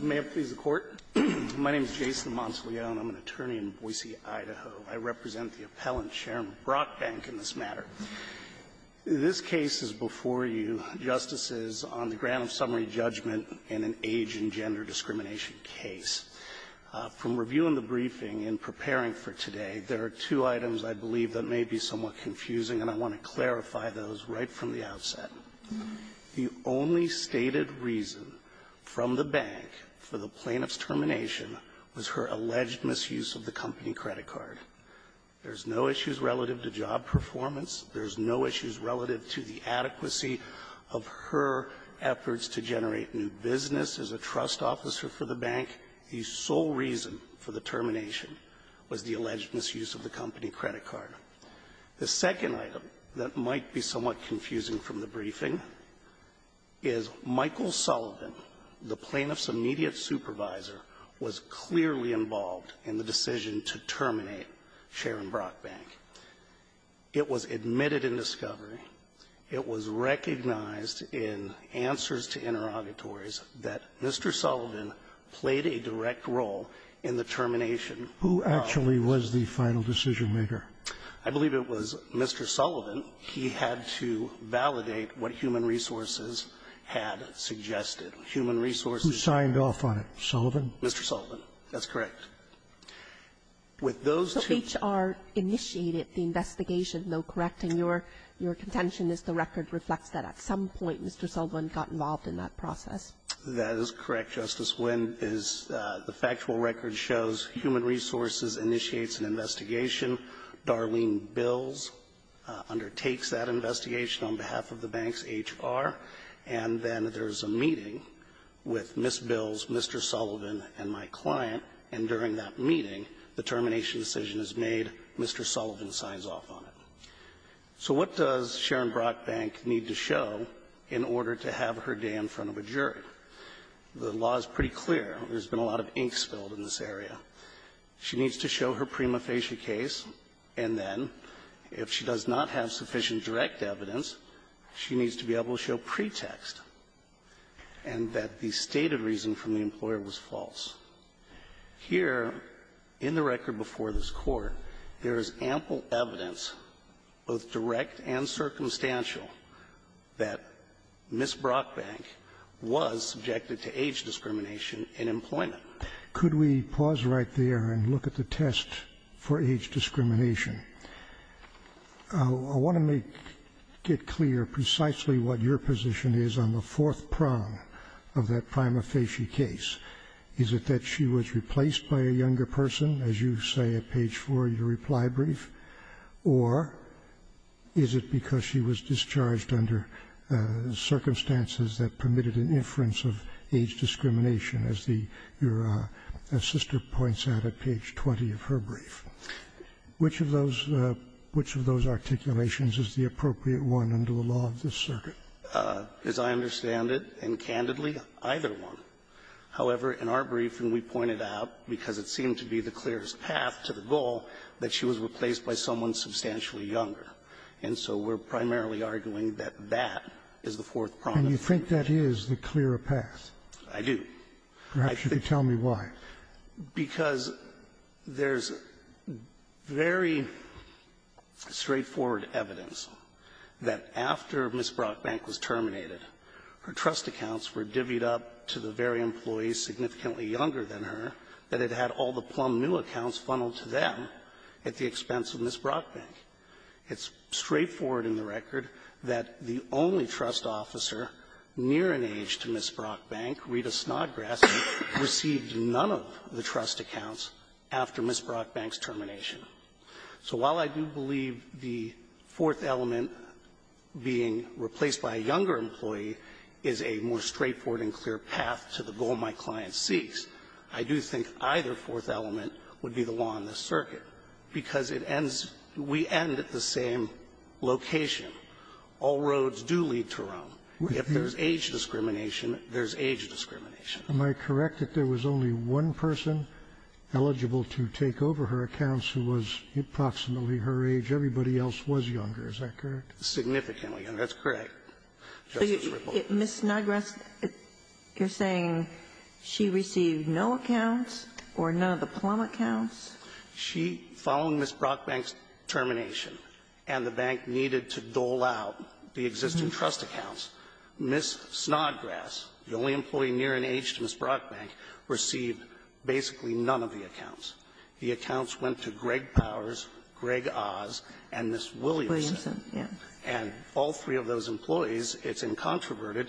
May it please the Court. My name is Jason Monteleone. I'm an attorney in Boise, Idaho. I represent the appellant, Chairman Brockbank, in this matter. This case is before you, Justices, on the grant of summary judgment in an age and gender discrimination case. From reviewing the briefing and preparing for today, there are two items, I believe, that may be somewhat confusing, and I want to clarify those right from the outset. The only stated reason from the bank for the plaintiff's termination was her alleged misuse of the company credit card. There's no issues relative to job performance. There's no issues relative to the adequacy of her efforts to generate new business as a trust officer for the bank. The sole reason for the termination was the alleged misuse of the company credit card. The second item that might be somewhat confusing from the briefing is Michael Sullivan, the plaintiff's immediate supervisor, was clearly involved in the decision to terminate Sharon Brockbank. It was admitted in discovery. It was recognized in answers to interrogatories that Mr. Sullivan played a direct role in the termination of the plaintiff. Scalia. Who actually was the final decision-maker? I believe it was Mr. Sullivan. He had to validate what Human Resources had suggested. Human Resources ---- Who signed off on it? Sullivan? Mr. Sullivan. That's correct. With those two ---- So HR initiated the investigation, though, correct? And your contention is the record reflects that at some point Mr. Sullivan got involved in that process. That is correct, Justice. When is the factual record shows Human Resources initiates an investigation, Darlene Bills undertakes that investigation on behalf of the bank's HR, and then there's a meeting with Ms. Bills, Mr. Sullivan, and my client, and during that meeting, the termination decision is made, Mr. Sullivan signs off on it. So what does Sharon Brockbank need to show in order to have her day in front of a jury? The law is pretty clear. There's been a lot of ink spilled in this area. She needs to show her prima facie case, and then if she does not have sufficient direct evidence, she needs to be able to show pretext and that the stated reason from the employer was false. Here, in the record before this Court, there is ample evidence, both direct and circumstantial, that Ms. Brockbank was subjected to age discrimination in employment. Could we pause right there and look at the test for age discrimination? I want to make it clear precisely what your position is on the fourth prong of that prima facie case. Is it that she was replaced by a younger person, as you say at page four of your reply brief, or is it because she was discharged under circumstances that were, as Sister points out at page 20 of her brief? Which of those articulations is the appropriate one under the law of this circuit? As I understand it, and candidly, either one. However, in our briefing, we pointed out, because it seemed to be the clearest path to the goal, that she was replaced by someone substantially younger. And so we're primarily arguing that that is the fourth prong. And you think that is the clearer path? I do. Perhaps you could tell me why. Because there's very straightforward evidence that after Ms. Brockbank was terminated, her trust accounts were divvied up to the very employees significantly younger than her, that it had all the Plum New accounts funneled to them at the expense of Ms. Brockbank. It's straightforward in the record that the only trust officer near an age to Ms. Brockbank, Rita Snodgrass, received none of the trust accounts after Ms. Brockbank's termination. So while I do believe the fourth element, being replaced by a younger employee, is a more straightforward and clear path to the goal my client seeks, I do think either fourth element would be the law in this circuit, because it ends we end at the same location. All roads do lead to Rome. If there's age discrimination, there's age discrimination. Am I correct that there was only one person eligible to take over her accounts who was approximately her age? Everybody else was younger. Is that correct? Significantly younger. That's correct. Ms. Snodgrass, you're saying she received no accounts or none of the Plum accounts? She, following Ms. Brockbank's termination, and the bank needed to dole out the existing trust accounts, Ms. Snodgrass, the only employee near an age to Ms. Brockbank, received basically none of the accounts. The accounts went to Greg Powers, Greg Oz, and Ms. Williamson. And all three of those employees, it's incontroverted,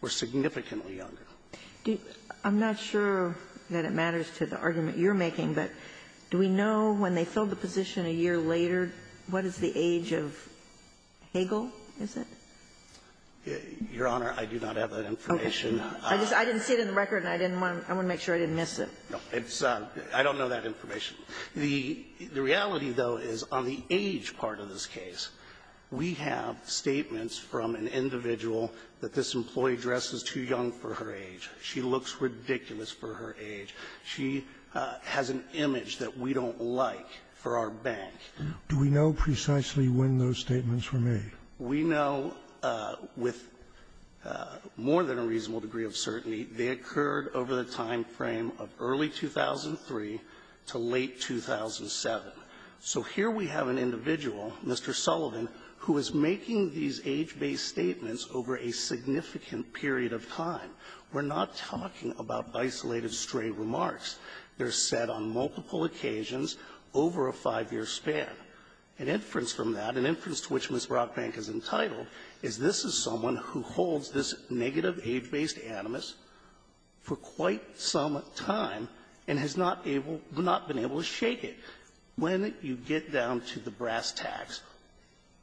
were significantly younger. I'm not sure that it matters to the argument you're making, but do we know when they filled the position a year later, what is the age of Hagel, is it? Your Honor, I do not have that information. I didn't see it in the record, and I didn't want to make sure I didn't miss it. I don't know that information. The reality, though, is on the age part of this case, we have statements from an individual that this employee dresses too young for her age. She looks ridiculous for her age. She has an image that we don't like for our bank. Do we know precisely when those statements were made? We know with more than a reasonable degree of certainty they occurred over the time frame of early 2003 to late 2007. So here we have an individual, Mr. Sullivan, who is making these age-based statements over a significant period of time. We're not talking about isolated, stray remarks. They're said on multiple occasions over a five-year span. An inference from that, an inference to which Ms. Brockbank is entitled, is this is someone who holds this negative age-based animus for quite some time and has not been able to shake it. When you get down to the brass tacks,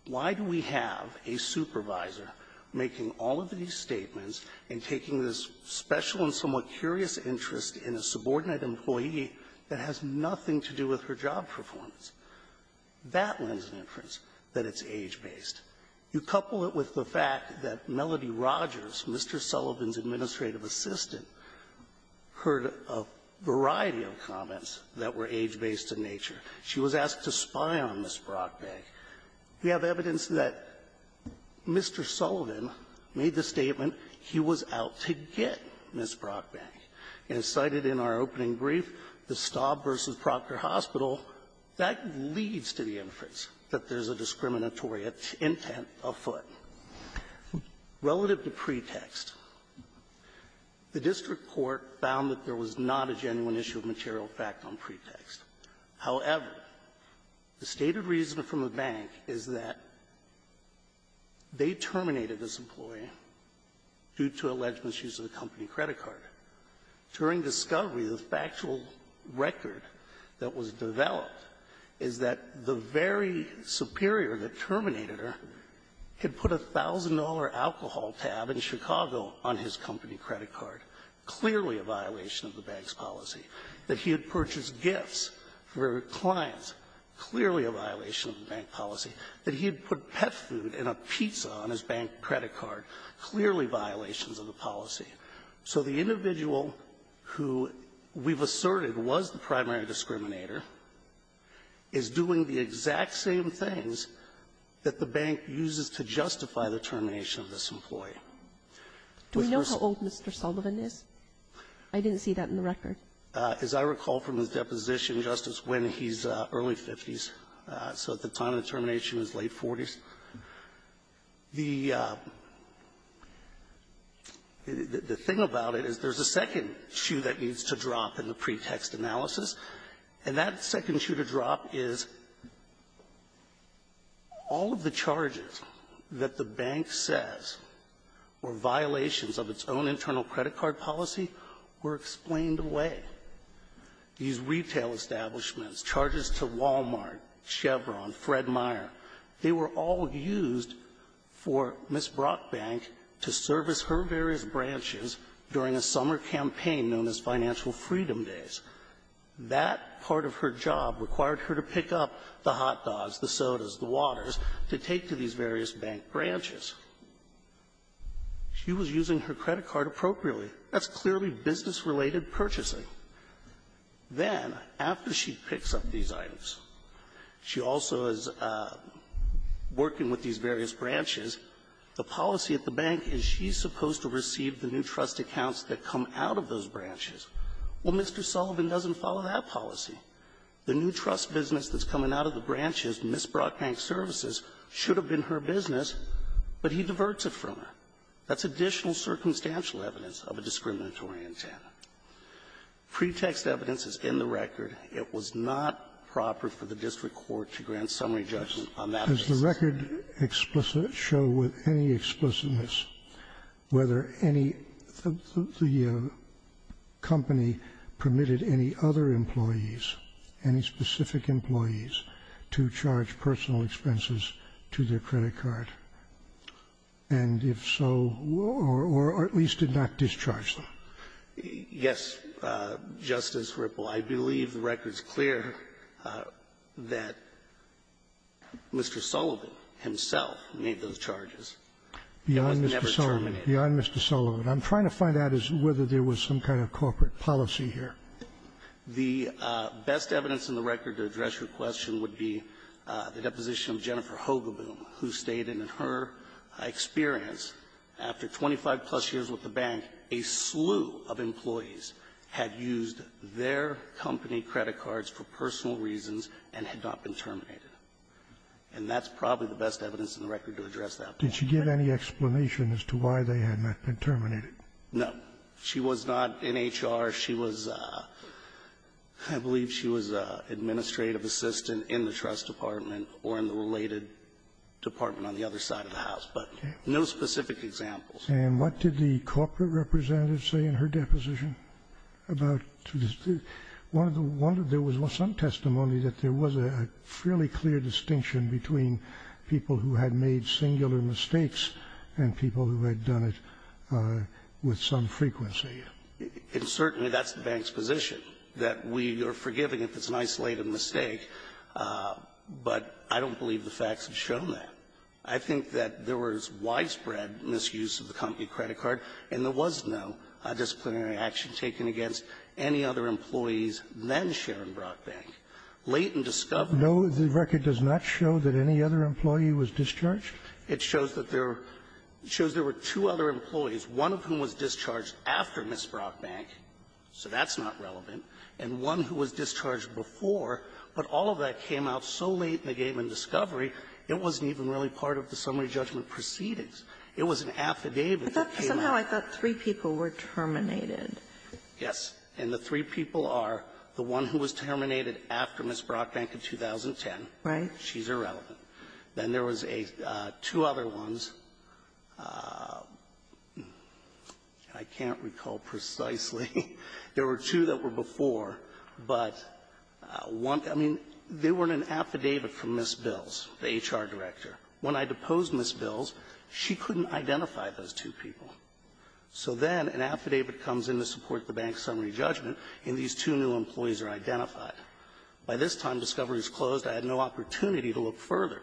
why do we have a supervisor making all of these statements and taking this special and somewhat curious interest in a subordinate employee that has nothing to do with her job performance? That lends an inference that it's age-based. You couple it with the fact that Melody Rogers, Mr. Sullivan's She was asked to spy on Ms. Brockbank. We have evidence that Mr. Sullivan made the statement, he was out to get Ms. Brockbank. And as cited in our opening brief, the Staub v. Proctor Hospital, that leads to the inference that there's a discriminatory intent afoot. Relative to pretext, the district court found that there was not a genuine issue of material fact on pretext. However, the stated reason from the bank is that they terminated this employee due to alleged misuse of the company credit card. During discovery, the factual record that was developed is that the very superior that terminated her had put a $1,000 alcohol tab in Chicago on his company credit card, clearly a violation of the bank's policy. That he had purchased gifts for clients, clearly a violation of the bank policy. That he had put pet food and a pizza on his bank credit card, clearly violations of the policy. So the individual who we've asserted was the primary discriminator is doing the exact same things that the bank uses to justify the termination of this employee. With her so -- Kagan. Do we know how old Mr. Sullivan is? I didn't see that in the record. As I recall from his deposition, Justice, when he's early 50s, so at the time of the termination, he was late 40s. The thing about it is there's a second shoe that needs to drop in the pretext analysis, and that second shoe to drop is all of the charges that the bank says were violations of its own internal credit card policy were explained away. These retail establishments, charges to Walmart, Chevron, Fred Meyer, they were all used for Ms. Brockbank to service her various branches during a summer campaign known as Financial Freedom Days. That part of her job required her to pick up the She was using her credit card appropriately. That's clearly business-related purchasing. Then, after she picks up these items, she also is working with these various branches. The policy at the bank is she's supposed to receive the new trust accounts that come out of those branches. Well, Mr. Sullivan doesn't follow that policy. The new trust business that's coming out of the branches, Ms. Brockbank Services, should have been her business, but he diverts it from her. That's additional circumstantial evidence of a discriminatory intent. Pretext evidence is in the record. It was not proper for the district court to grant summary judgment on that basis. Scalia. Does the record show with any explicitness whether any of the company permitted any other employees, any specific employees, to charge personal expenses to their credit card? And if so, or at least did not discharge them? Yes, Justice Ripple. I believe the record's clear that Mr. Sullivan himself made those charges. It was never terminated. Beyond Mr. Sullivan. I'm trying to find out whether there was some kind of corporate policy here. The best evidence in the record to address your question would be the deposition of Jennifer Hogeboom, who stated in her experience, after 25-plus years with the Bank, a slew of employees had used their company credit cards for personal reasons and had not been terminated. And that's probably the best evidence in the record to address that point. Did she give any explanation as to why they had not been terminated? No. She was not in HR. She was, I believe she was an administrative assistant in the trust department or in the related department on the other side of the house. But no specific examples. And what did the corporate representative say in her deposition about the one of the one of there was some testimony that there was a fairly clear distinction between people who had made singular mistakes and people who had done it with some frequency. And certainly that's the Bank's position, that we are forgiving if it's an isolated mistake, but I don't believe the facts have shown that. I think that there was widespread misuse of the company credit card, and there was no disciplinary action taken against any other employees then Sharon Brock Bank. Latent discovery. No, the record does not show that any other employee was discharged. It shows that there were two other employees, one of whom was discharged after Ms. Brock Bank, so that's not relevant, and one who was discharged before. But all of that came out so late in the game in discovery, it wasn't even really part of the summary judgment proceedings. It was an affidavit that came out. But somehow I thought three people were terminated. Yes. And the three people are the one who was terminated after Ms. Brock Bank in 2010. Right. She's irrelevant. Then there was a two other ones. I can't recall precisely. There were two that were before, but one they weren't an affidavit from Ms. Bills, the HR director. When I deposed Ms. Bills, she couldn't identify those two people. So then an affidavit comes in to support the bank summary judgment, and these two new employees are identified. By this time, discovery is closed. I had no opportunity to look further.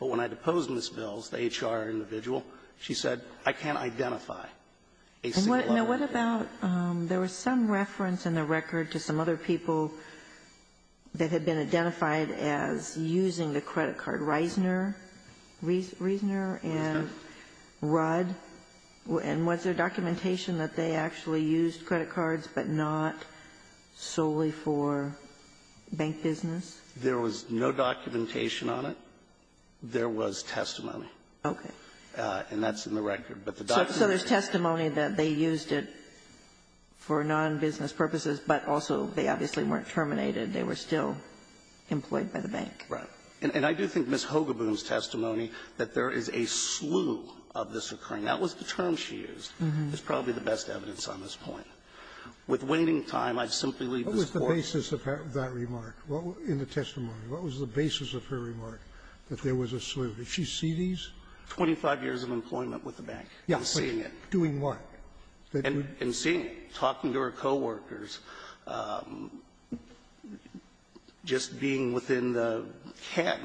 But when I deposed Ms. Bills, the HR individual, she said, I can't identify a single other employee. And what about there was some reference in the record to some other people that had been identified as using the credit card, Reisner and Rudd, and what was the name of And was there documentation that they actually used credit cards, but not solely for bank business? There was no documentation on it. There was testimony. Okay. And that's in the record. But the documentation So there's testimony that they used it for nonbusiness purposes, but also they obviously weren't terminated. They were still employed by the bank. Right. And I do think Ms. Hogeboom's testimony that there is a slew of this occurring. That was the term she used. It's probably the best evidence on this point. With waiting time, I simply leave this Court What was the basis of that remark? In the testimony, what was the basis of her remark, that there was a slew? Did she see these? Twenty-five years of employment with the bank. Yes. And seeing it. Doing what? And seeing it. Talking to her coworkers, just being within the can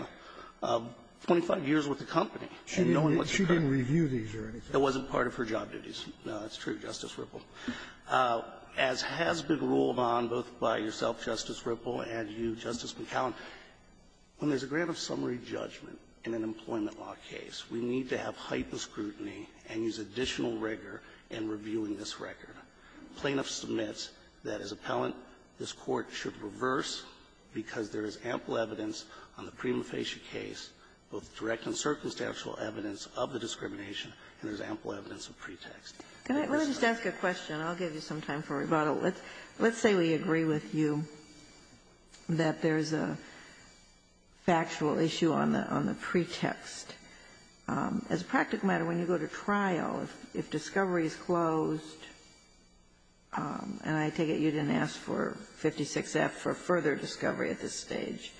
of 25 years with the company and knowing what's occurring. She didn't review these or anything? That wasn't part of her job duties. No, that's true, Justice Ripple. As has been ruled on both by yourself, Justice Ripple, and you, Justice McAllen, when there's a grant of summary judgment in an employment law case, we need to have heightened scrutiny and use additional rigor in reviewing this record. Plaintiff submits that as appellant, this Court should reverse because there is ample evidence on the prima facie case, both direct and circumstantial evidence of the discrimination, and there's ample evidence of pretext. Let me just ask a question. I'll give you some time for rebuttal. Let's say we agree with you that there's a factual issue on the pretext. As a practical matter, when you go to trial, if discovery is closed, and I take it you didn't ask for 56F for further discovery at this stage,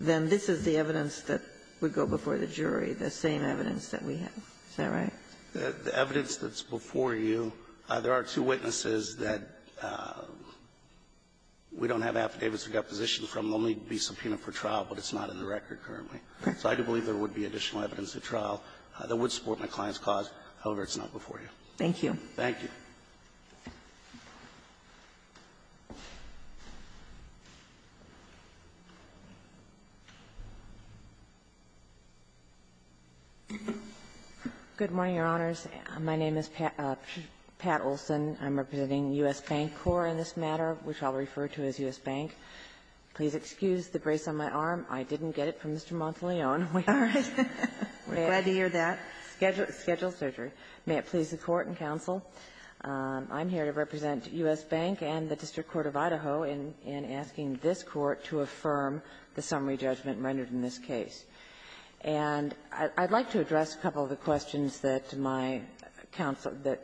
then this is the evidence that would go before the jury, the same evidence that we have. Is that right? The evidence that's before you, there are two witnesses that we don't have affidavits we got position from. They'll only be subpoenaed for trial, but it's not in the record currently. So I do believe there would be additional evidence at trial that would support my client's cause. However, it's not before you. Thank you. Thank you. Good morning, Your Honors. My name is Pat Olson. I'm representing U.S. Bank Corps in this matter, which I'll refer to as U.S. Bank. Please excuse the brace on my arm. I didn't get it from Mr. Monteleone. We are at Schedule Surgery. May it please the Court and counsel, I'm here to represent U.S. Bank and the District Court of Idaho in asking this Court to affirm the summary judgment rendered in this case. And I'd like to address a couple of the questions that my counsel that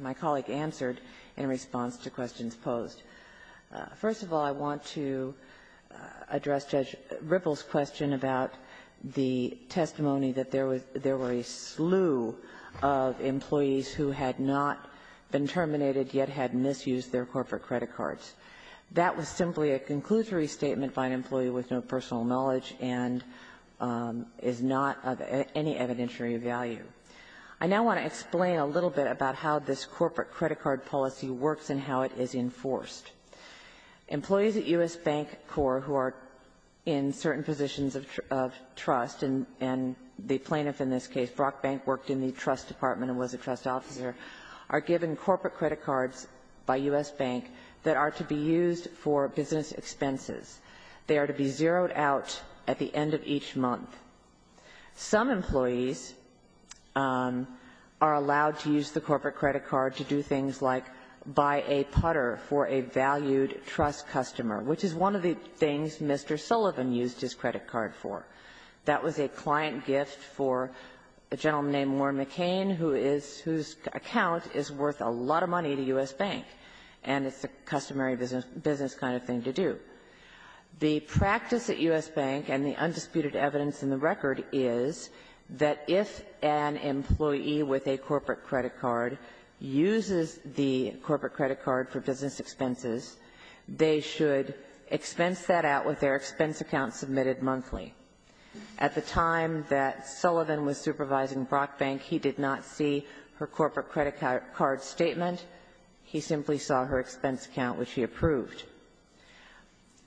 my colleague answered in response to questions posed. First of all, I want to address Judge Ripple's question about the testimony that there were a slew of employees who had not been terminated, yet had misused their corporate credit cards. That was simply a conclusory statement by an employee with no personal knowledge and is not of any evidentiary value. I now want to explain a little bit about how this corporate credit card policy works and how it is enforced. Employees at U.S. Bank Corp., who are in certain positions of trust, and the plaintiff in this case, Brock Bank, worked in the trust department and was a trust officer, are given corporate credit cards by U.S. Bank that are to be used for business expenses. They are to be zeroed out at the end of each month. Some employees are allowed to use the corporate credit card to do things like buy a putter for a valued trust customer, which is one of the things Mr. Sullivan used his credit card for. That was a client gift for a gentleman named Warren McCain, who is — whose account is worth a lot of money to U.S. Bank, and it's a customary business kind of thing to do. The practice at U.S. Bank and the undisputed evidence in the record is that if an employee with a corporate credit card uses the corporate credit card for business expenses, they should expense that out with their expense account submitted monthly. At the time that Sullivan was supervising Brock Bank, he did not see her corporate credit card statement. He simply saw her expense account, which he approved.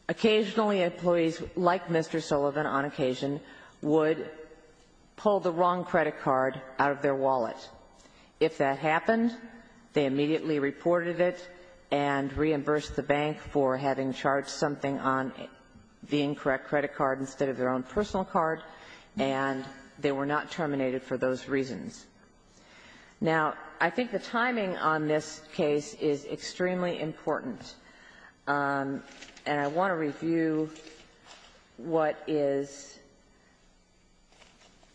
Occasionally, employees like Mr. Sullivan, on occasion, would pull the wrong credit card out of their wallet. If that happened, they immediately reported it and reimbursed the bank for having charged something on the incorrect credit card instead of their own personal card, and they were not terminated for those reasons. Now, I think the timing on this case is extremely important, and I want to review what is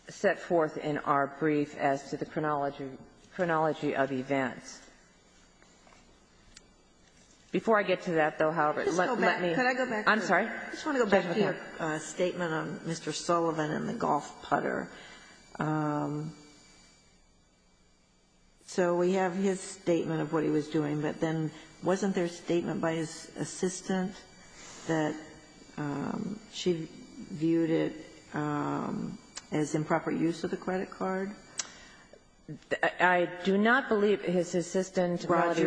set forth in our brief as to the chronology of events. Before I get to that, though, however, let me go back to your statement on Mr. Sullivan and the golf putter. So we have his statement of what he was doing, but then wasn't there a statement by his assistant that she viewed it as improper use of the credit card? I do not believe his assistant, Melody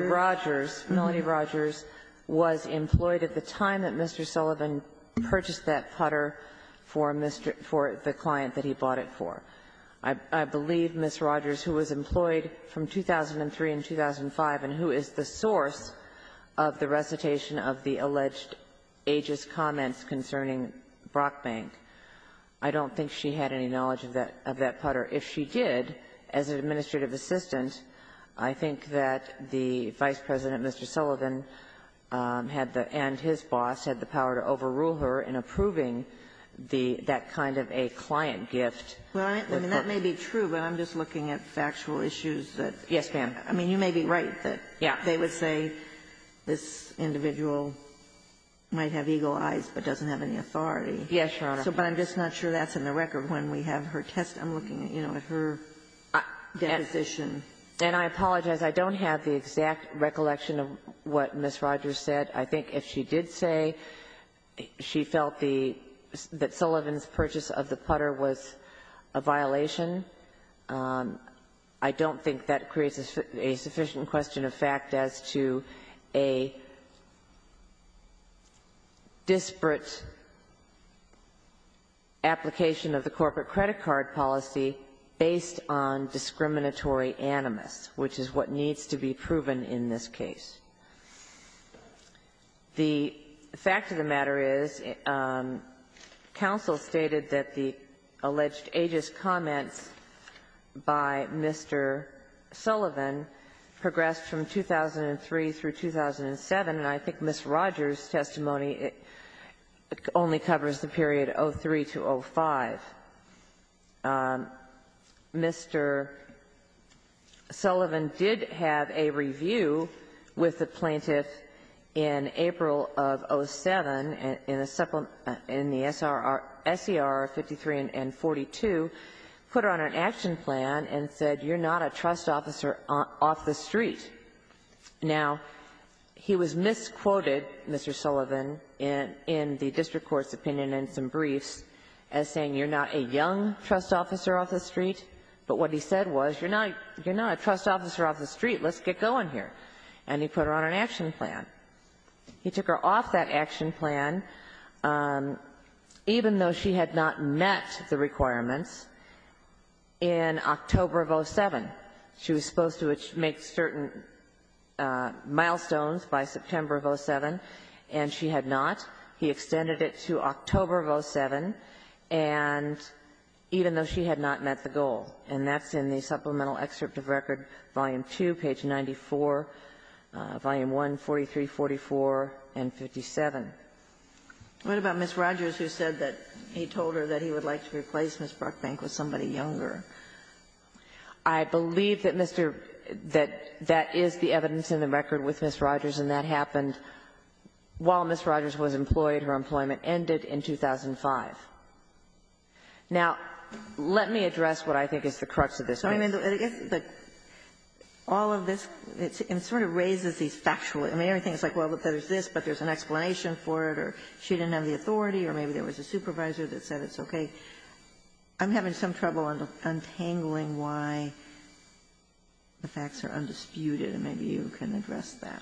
Rogers, was employed at the time that Mr. Sullivan purchased that putter for Mr. --" for the client that he bought it for. I believe Ms. Rogers, who was employed from 2003 and 2005, and who is the source of the recitation of the alleged ageist comments concerning Brockbank, I don't think she had any knowledge of that putter. If she did, as an administrative assistant, I think that the Vice President, Mr. Sullivan, had the --" and his boss, had the power to overrule her in approving the --" that kind of a client gift. Ginsburg. I mean, that may be true, but I'm just looking at factual issues that they would say. Yes, ma'am. I mean, you may be right that they would say this individual might have eagle eyes, but doesn't have any authority. Yes, Your Honor. So but I'm just not sure that's in the record when we have her test. I'm looking at, you know, at her deposition. And I apologize. I don't have the exact recollection of what Ms. Rogers said. I think if she did say she felt the --" that Sullivan's purchase of the putter was a violation, I don't think that creates a sufficient question of fact as to a disparate application of the corporate credit card policy based on discriminatory animus, which is what needs to be proven in this case. The fact of the matter is, counsel stated that the alleged use of the putter and the alleged aegis comments by Mr. Sullivan progressed from 2003 through 2007. And I think Ms. Rogers' testimony only covers the period 03 to 05. Mr. Sullivan did have a review with the plaintiff in April of 07 in the SER 53 and 42, put her on an action plan, and said, you're not a trust officer off the street. Now, he was misquoted, Mr. Sullivan, in the district court's opinion in some briefs as saying, you're not a young trust officer off the street. But what he said was, you're not a trust officer off the street. Let's get going here. And he put her on an action plan. He took her off that action plan, even though she had not met the requirements in October of 07. She was supposed to make certain milestones by September of 07, and she had not. He extended it to October of 07, and even though she had not met the goal. And that's in the supplemental excerpt of record, volume 2, page 94, volume 1, 43, 44, and 57. What about Ms. Rogers, who said that he told her that he would like to replace Ms. Bruckbank with somebody younger? I believe that Mr. — that that is the evidence in the record with Ms. Rogers, and that happened while Ms. Rogers was employed. Her employment ended in 2005. Now, let me address what I think is the crux of this. I mean, if the — all of this, it sort of raises these factual — I mean, everything is like, well, there's this, but there's an explanation for it, or she didn't have the authority, or maybe there was a supervisor that said it's okay. I'm having some trouble untangling why the facts are undisputed, and maybe you can address that.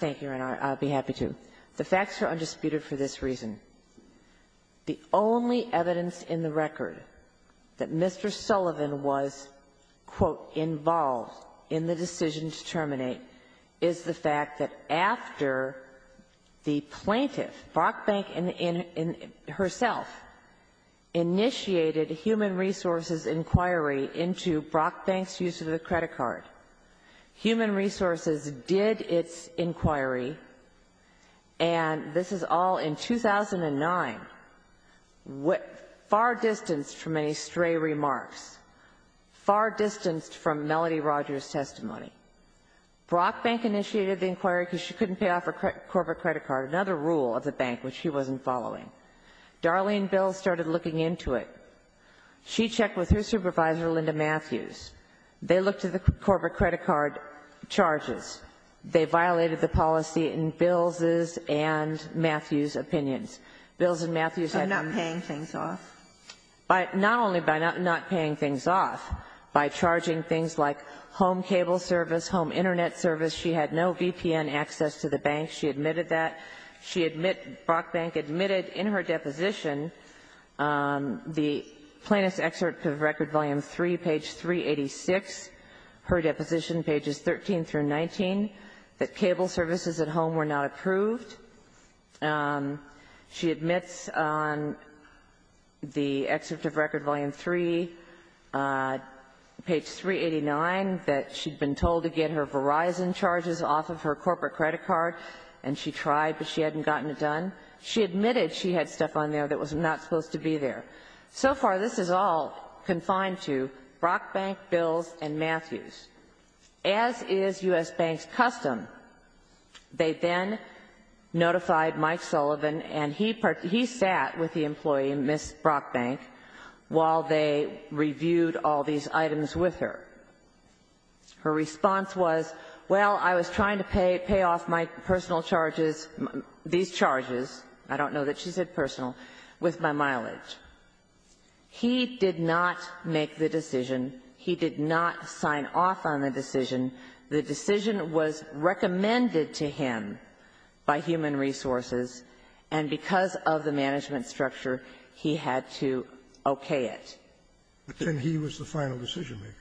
Thank you, Your Honor. I'd be happy to. The facts are undisputed for this reason. The only evidence in the record that Mr. Sullivan was, quote, involved in the decision to terminate is the fact that after the plaintiff, Bruckbank herself, initiated a human resources inquiry into Bruckbank's use of the credit card, human resources did its job. In 2009, far distanced from any stray remarks, far distanced from Melody Rogers' testimony, Bruckbank initiated the inquiry because she couldn't pay off her corporate credit card, another rule of the bank which she wasn't following. Darlene Bill started looking into it. She checked with her supervisor, Linda Matthews. They looked at the corporate credit card charges. They violated the policy in Bill's and Matthews' opinions. Bill's and Matthews' had to be ---- By not paying things off? Not only by not paying things off, by charging things like home cable service, home Internet service. She had no VPN access to the bank. She admitted that. She admitted, Bruckbank admitted in her deposition, the plaintiff's excerpt of Record Volume 3, page 386, her deposition, pages 13 through 19, that cable services at home were not approved. She admits on the excerpt of Record Volume 3, page 389, that she'd been told to get her Verizon charges off of her corporate credit card, and she tried, but she hadn't gotten it done. She admitted she had stuff on there that was not supposed to be there. So far, this is all confined to Bruckbank, Bill's, and Matthews. As is U.S. Bank's custom, they then notified Mike Sullivan, and he sat with the employee, Ms. Bruckbank, while they reviewed all these items with her. Her response was, well, I was trying to pay off my personal charges, these charges, I don't know that she said personal, with my mileage. He did not make the decision. He did not sign off on the decision. The decision was recommended to him by Human Resources, and because of the management structure, he had to okay it. But then he was the final decision-maker.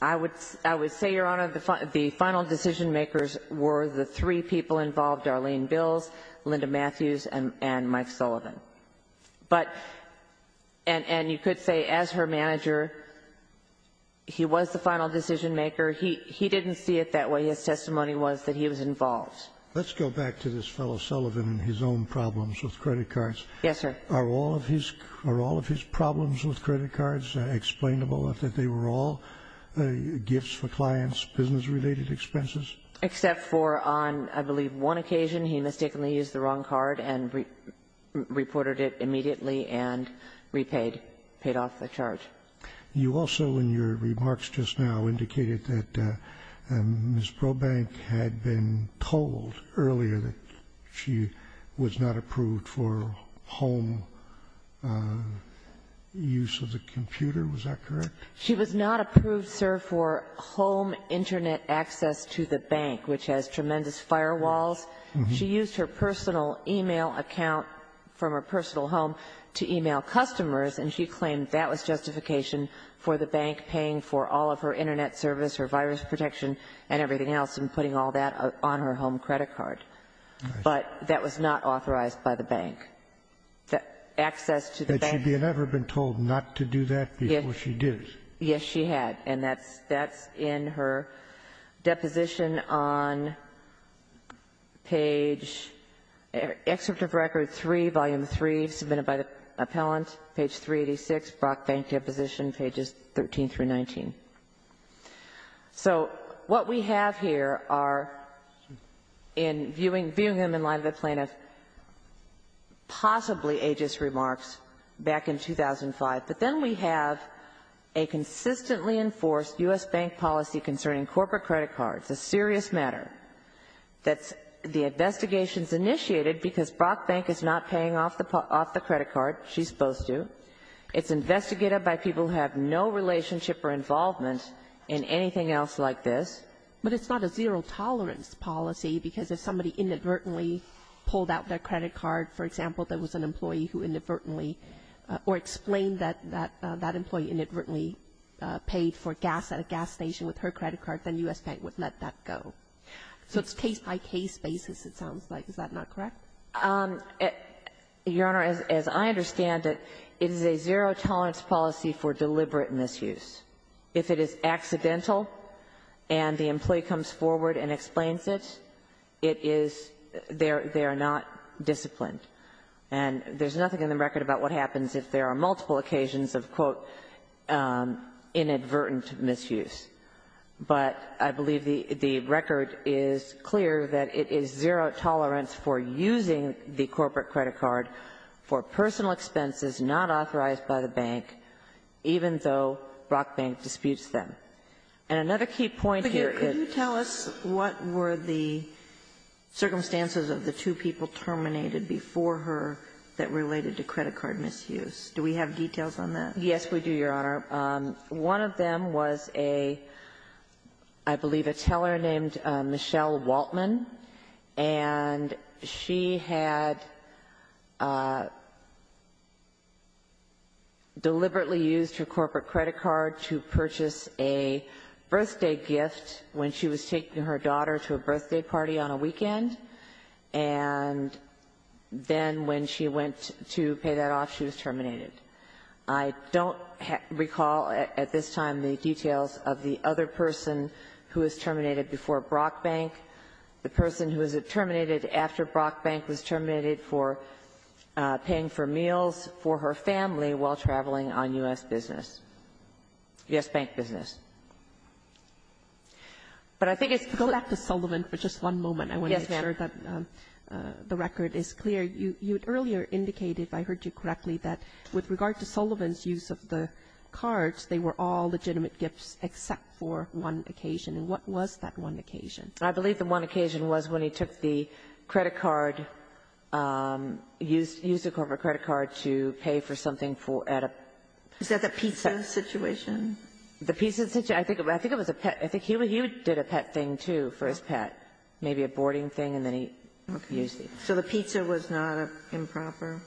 Blackman. I would say, Your Honor, the final decision-makers were the three people involved, Arlene Bills, Linda Matthews, and Mike Sullivan. But, and you could say, as her manager, he was the final decision-maker. He didn't see it that way. His testimony was that he was involved. Let's go back to this fellow Sullivan and his own problems with credit cards. Yes, sir. Are all of his problems with credit cards explainable, that they were all gifts for clients, business-related expenses? Except for on, I believe, one occasion, he mistakenly used the wrong card and reported it immediately and repaid, paid off the charge. You also, in your remarks just now, indicated that Ms. Brobank had been told earlier that she was not approved for home use of the computer. Was that correct? She was not approved, sir, for home Internet access to the bank, which has tremendous firewalls. She used her personal e-mail account from her personal home to e-mail customers, and she claimed that was justification for the bank paying for all of her Internet service, her virus protection, and everything else, and putting all that on her home credit card. But that was not authorized by the bank. The access to the bank. She had never been told not to do that before she did. Yes, she had. And that's in her deposition on page, Excerpt of Record 3, Volume 3, submitted by the appellant, page 386, Brock Bank Deposition, pages 13 through 19. So what we have here are, in viewing them in light of the plaintiff's possibly ageist remarks back in 2005, but then we have a consistently enforced U.S. Bank policy concerning corporate credit cards, a serious matter, that the investigation's initiated because Brock Bank is not paying off the credit card. She's supposed to. It's investigated by people who have no relationship or involvement in anything else like this. But it's not a zero-tolerance policy, because if somebody inadvertently pulled out their credit card, for example, there was an employee who inadvertently or explained that that employee inadvertently paid for gas at a gas station with her credit card, then U.S. Bank would let that go. So it's case-by-case basis, it sounds like. Is that not correct? Your Honor, as I understand it, it is a zero-tolerance policy for deliberate misuse. If it is accidental and the employee comes forward and explains it, it is they are not disciplined. And there's nothing in the record about what happens if there are multiple occasions of, quote, inadvertent misuse. But I believe the record is clear that it is zero-tolerance for using the corporate credit card for personal expenses not authorized by the bank, even though Brock Bank disputes them. And another key point here is — Yes, we do, Your Honor. One of them was a, I believe, a teller named Michelle Waltman, and she had deliberately used her corporate credit card to purchase a birthday gift when she was taking her daughter to a birthday party on a weekend. And then when she went to pay that off, she was terminated. I don't recall at this time the details of the other person who was terminated before Brock Bank, the person who was terminated after Brock Bank was terminated for paying for meals for her family while traveling on U.S. business. U.S. Bank business. But I think it's clear — Yes, ma'am. I'm sure that the record is clear. You earlier indicated, if I heard you correctly, that with regard to Sullivan's use of the cards, they were all legitimate gifts except for one occasion. And what was that one occasion? I believe the one occasion was when he took the credit card, used the corporate credit card to pay for something at a — Is that the pizza situation? The pizza situation. I think it was a pet. I think he did a pet thing, too, for his pet. Maybe a boarding thing, and then he used the — Okay. So the pizza was not improper?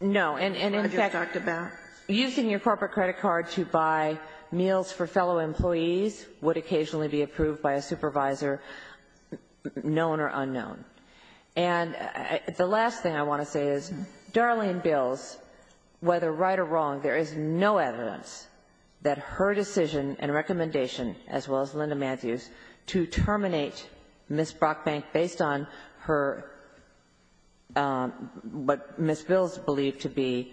No. And in fact — What I just talked about? Using your corporate credit card to buy meals for fellow employees would occasionally be approved by a supervisor, known or unknown. And the last thing I want to say is Darlene Bills, whether right or wrong, there is no recommendation, as well as Linda Matthews, to terminate Ms. Brockbank based on her — what Ms. Bills believed to be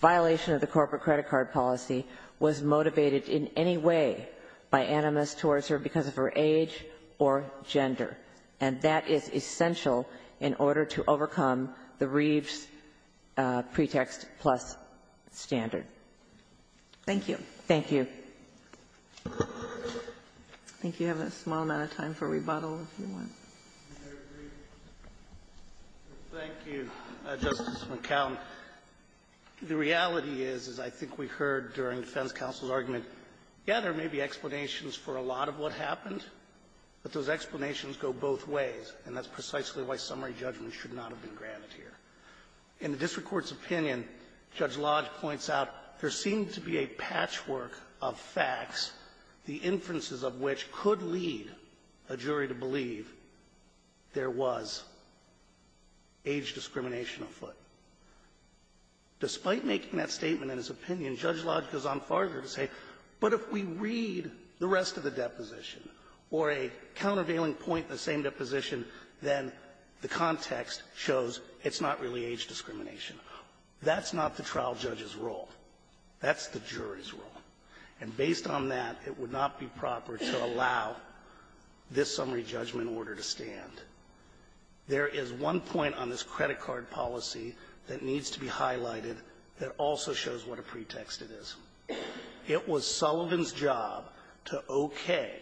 violation of the corporate credit card policy was motivated in any way by animus towards her because of her age or gender. And that is essential in order to overcome the Reeves pretext plus standard. Thank you. Thank you. I think you have a small amount of time for rebuttal, if you want. I agree. Thank you, Justice McConnell. The reality is, as I think we heard during defense counsel's argument, yeah, there may be explanations for a lot of what happened, but those explanations go both ways, and that's precisely why summary judgment should not have been granted here. In the district court's opinion, Judge Lodge points out there seems to be a patchwork of facts, the inferences of which could lead a jury to believe there was age discrimination afoot. Despite making that statement in his opinion, Judge Lodge goes on farther to say, but if we read the rest of the deposition or a countervailing point in the same deposition, then the context shows it's not really age discrimination. That's not the trial judge's role. That's the jury's role. And based on that, it would not be proper to allow this summary judgment order to stand. There is one point on this credit card policy that needs to be highlighted that also shows what a pretext it is. It was Sullivan's job to okay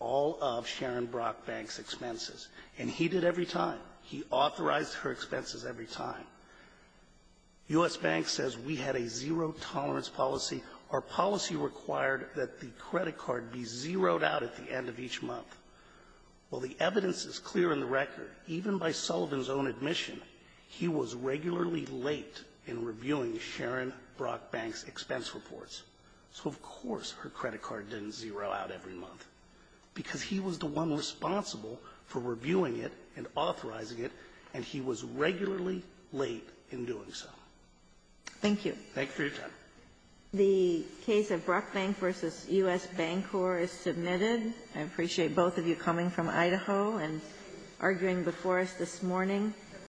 all of Sharon Brockbank's expenses, and he did every time. He authorized her expenses every time. U.S. Bank says we had a zero-tolerance policy. Our policy required that the credit card be zeroed out at the end of each month. Well, the evidence is clear in the record. Even by Sullivan's own admission, he was regularly late in reviewing Sharon Brockbank's expense reports. So of course her credit card didn't zero out every month, because he was the one responsible for reviewing it and authorizing it, and he was regularly late in doing so. Thank you. Thank you for your time. The case of Brockbank v. U.S. Bancorp is submitted. I appreciate both of you coming from Idaho and arguing before us this morning.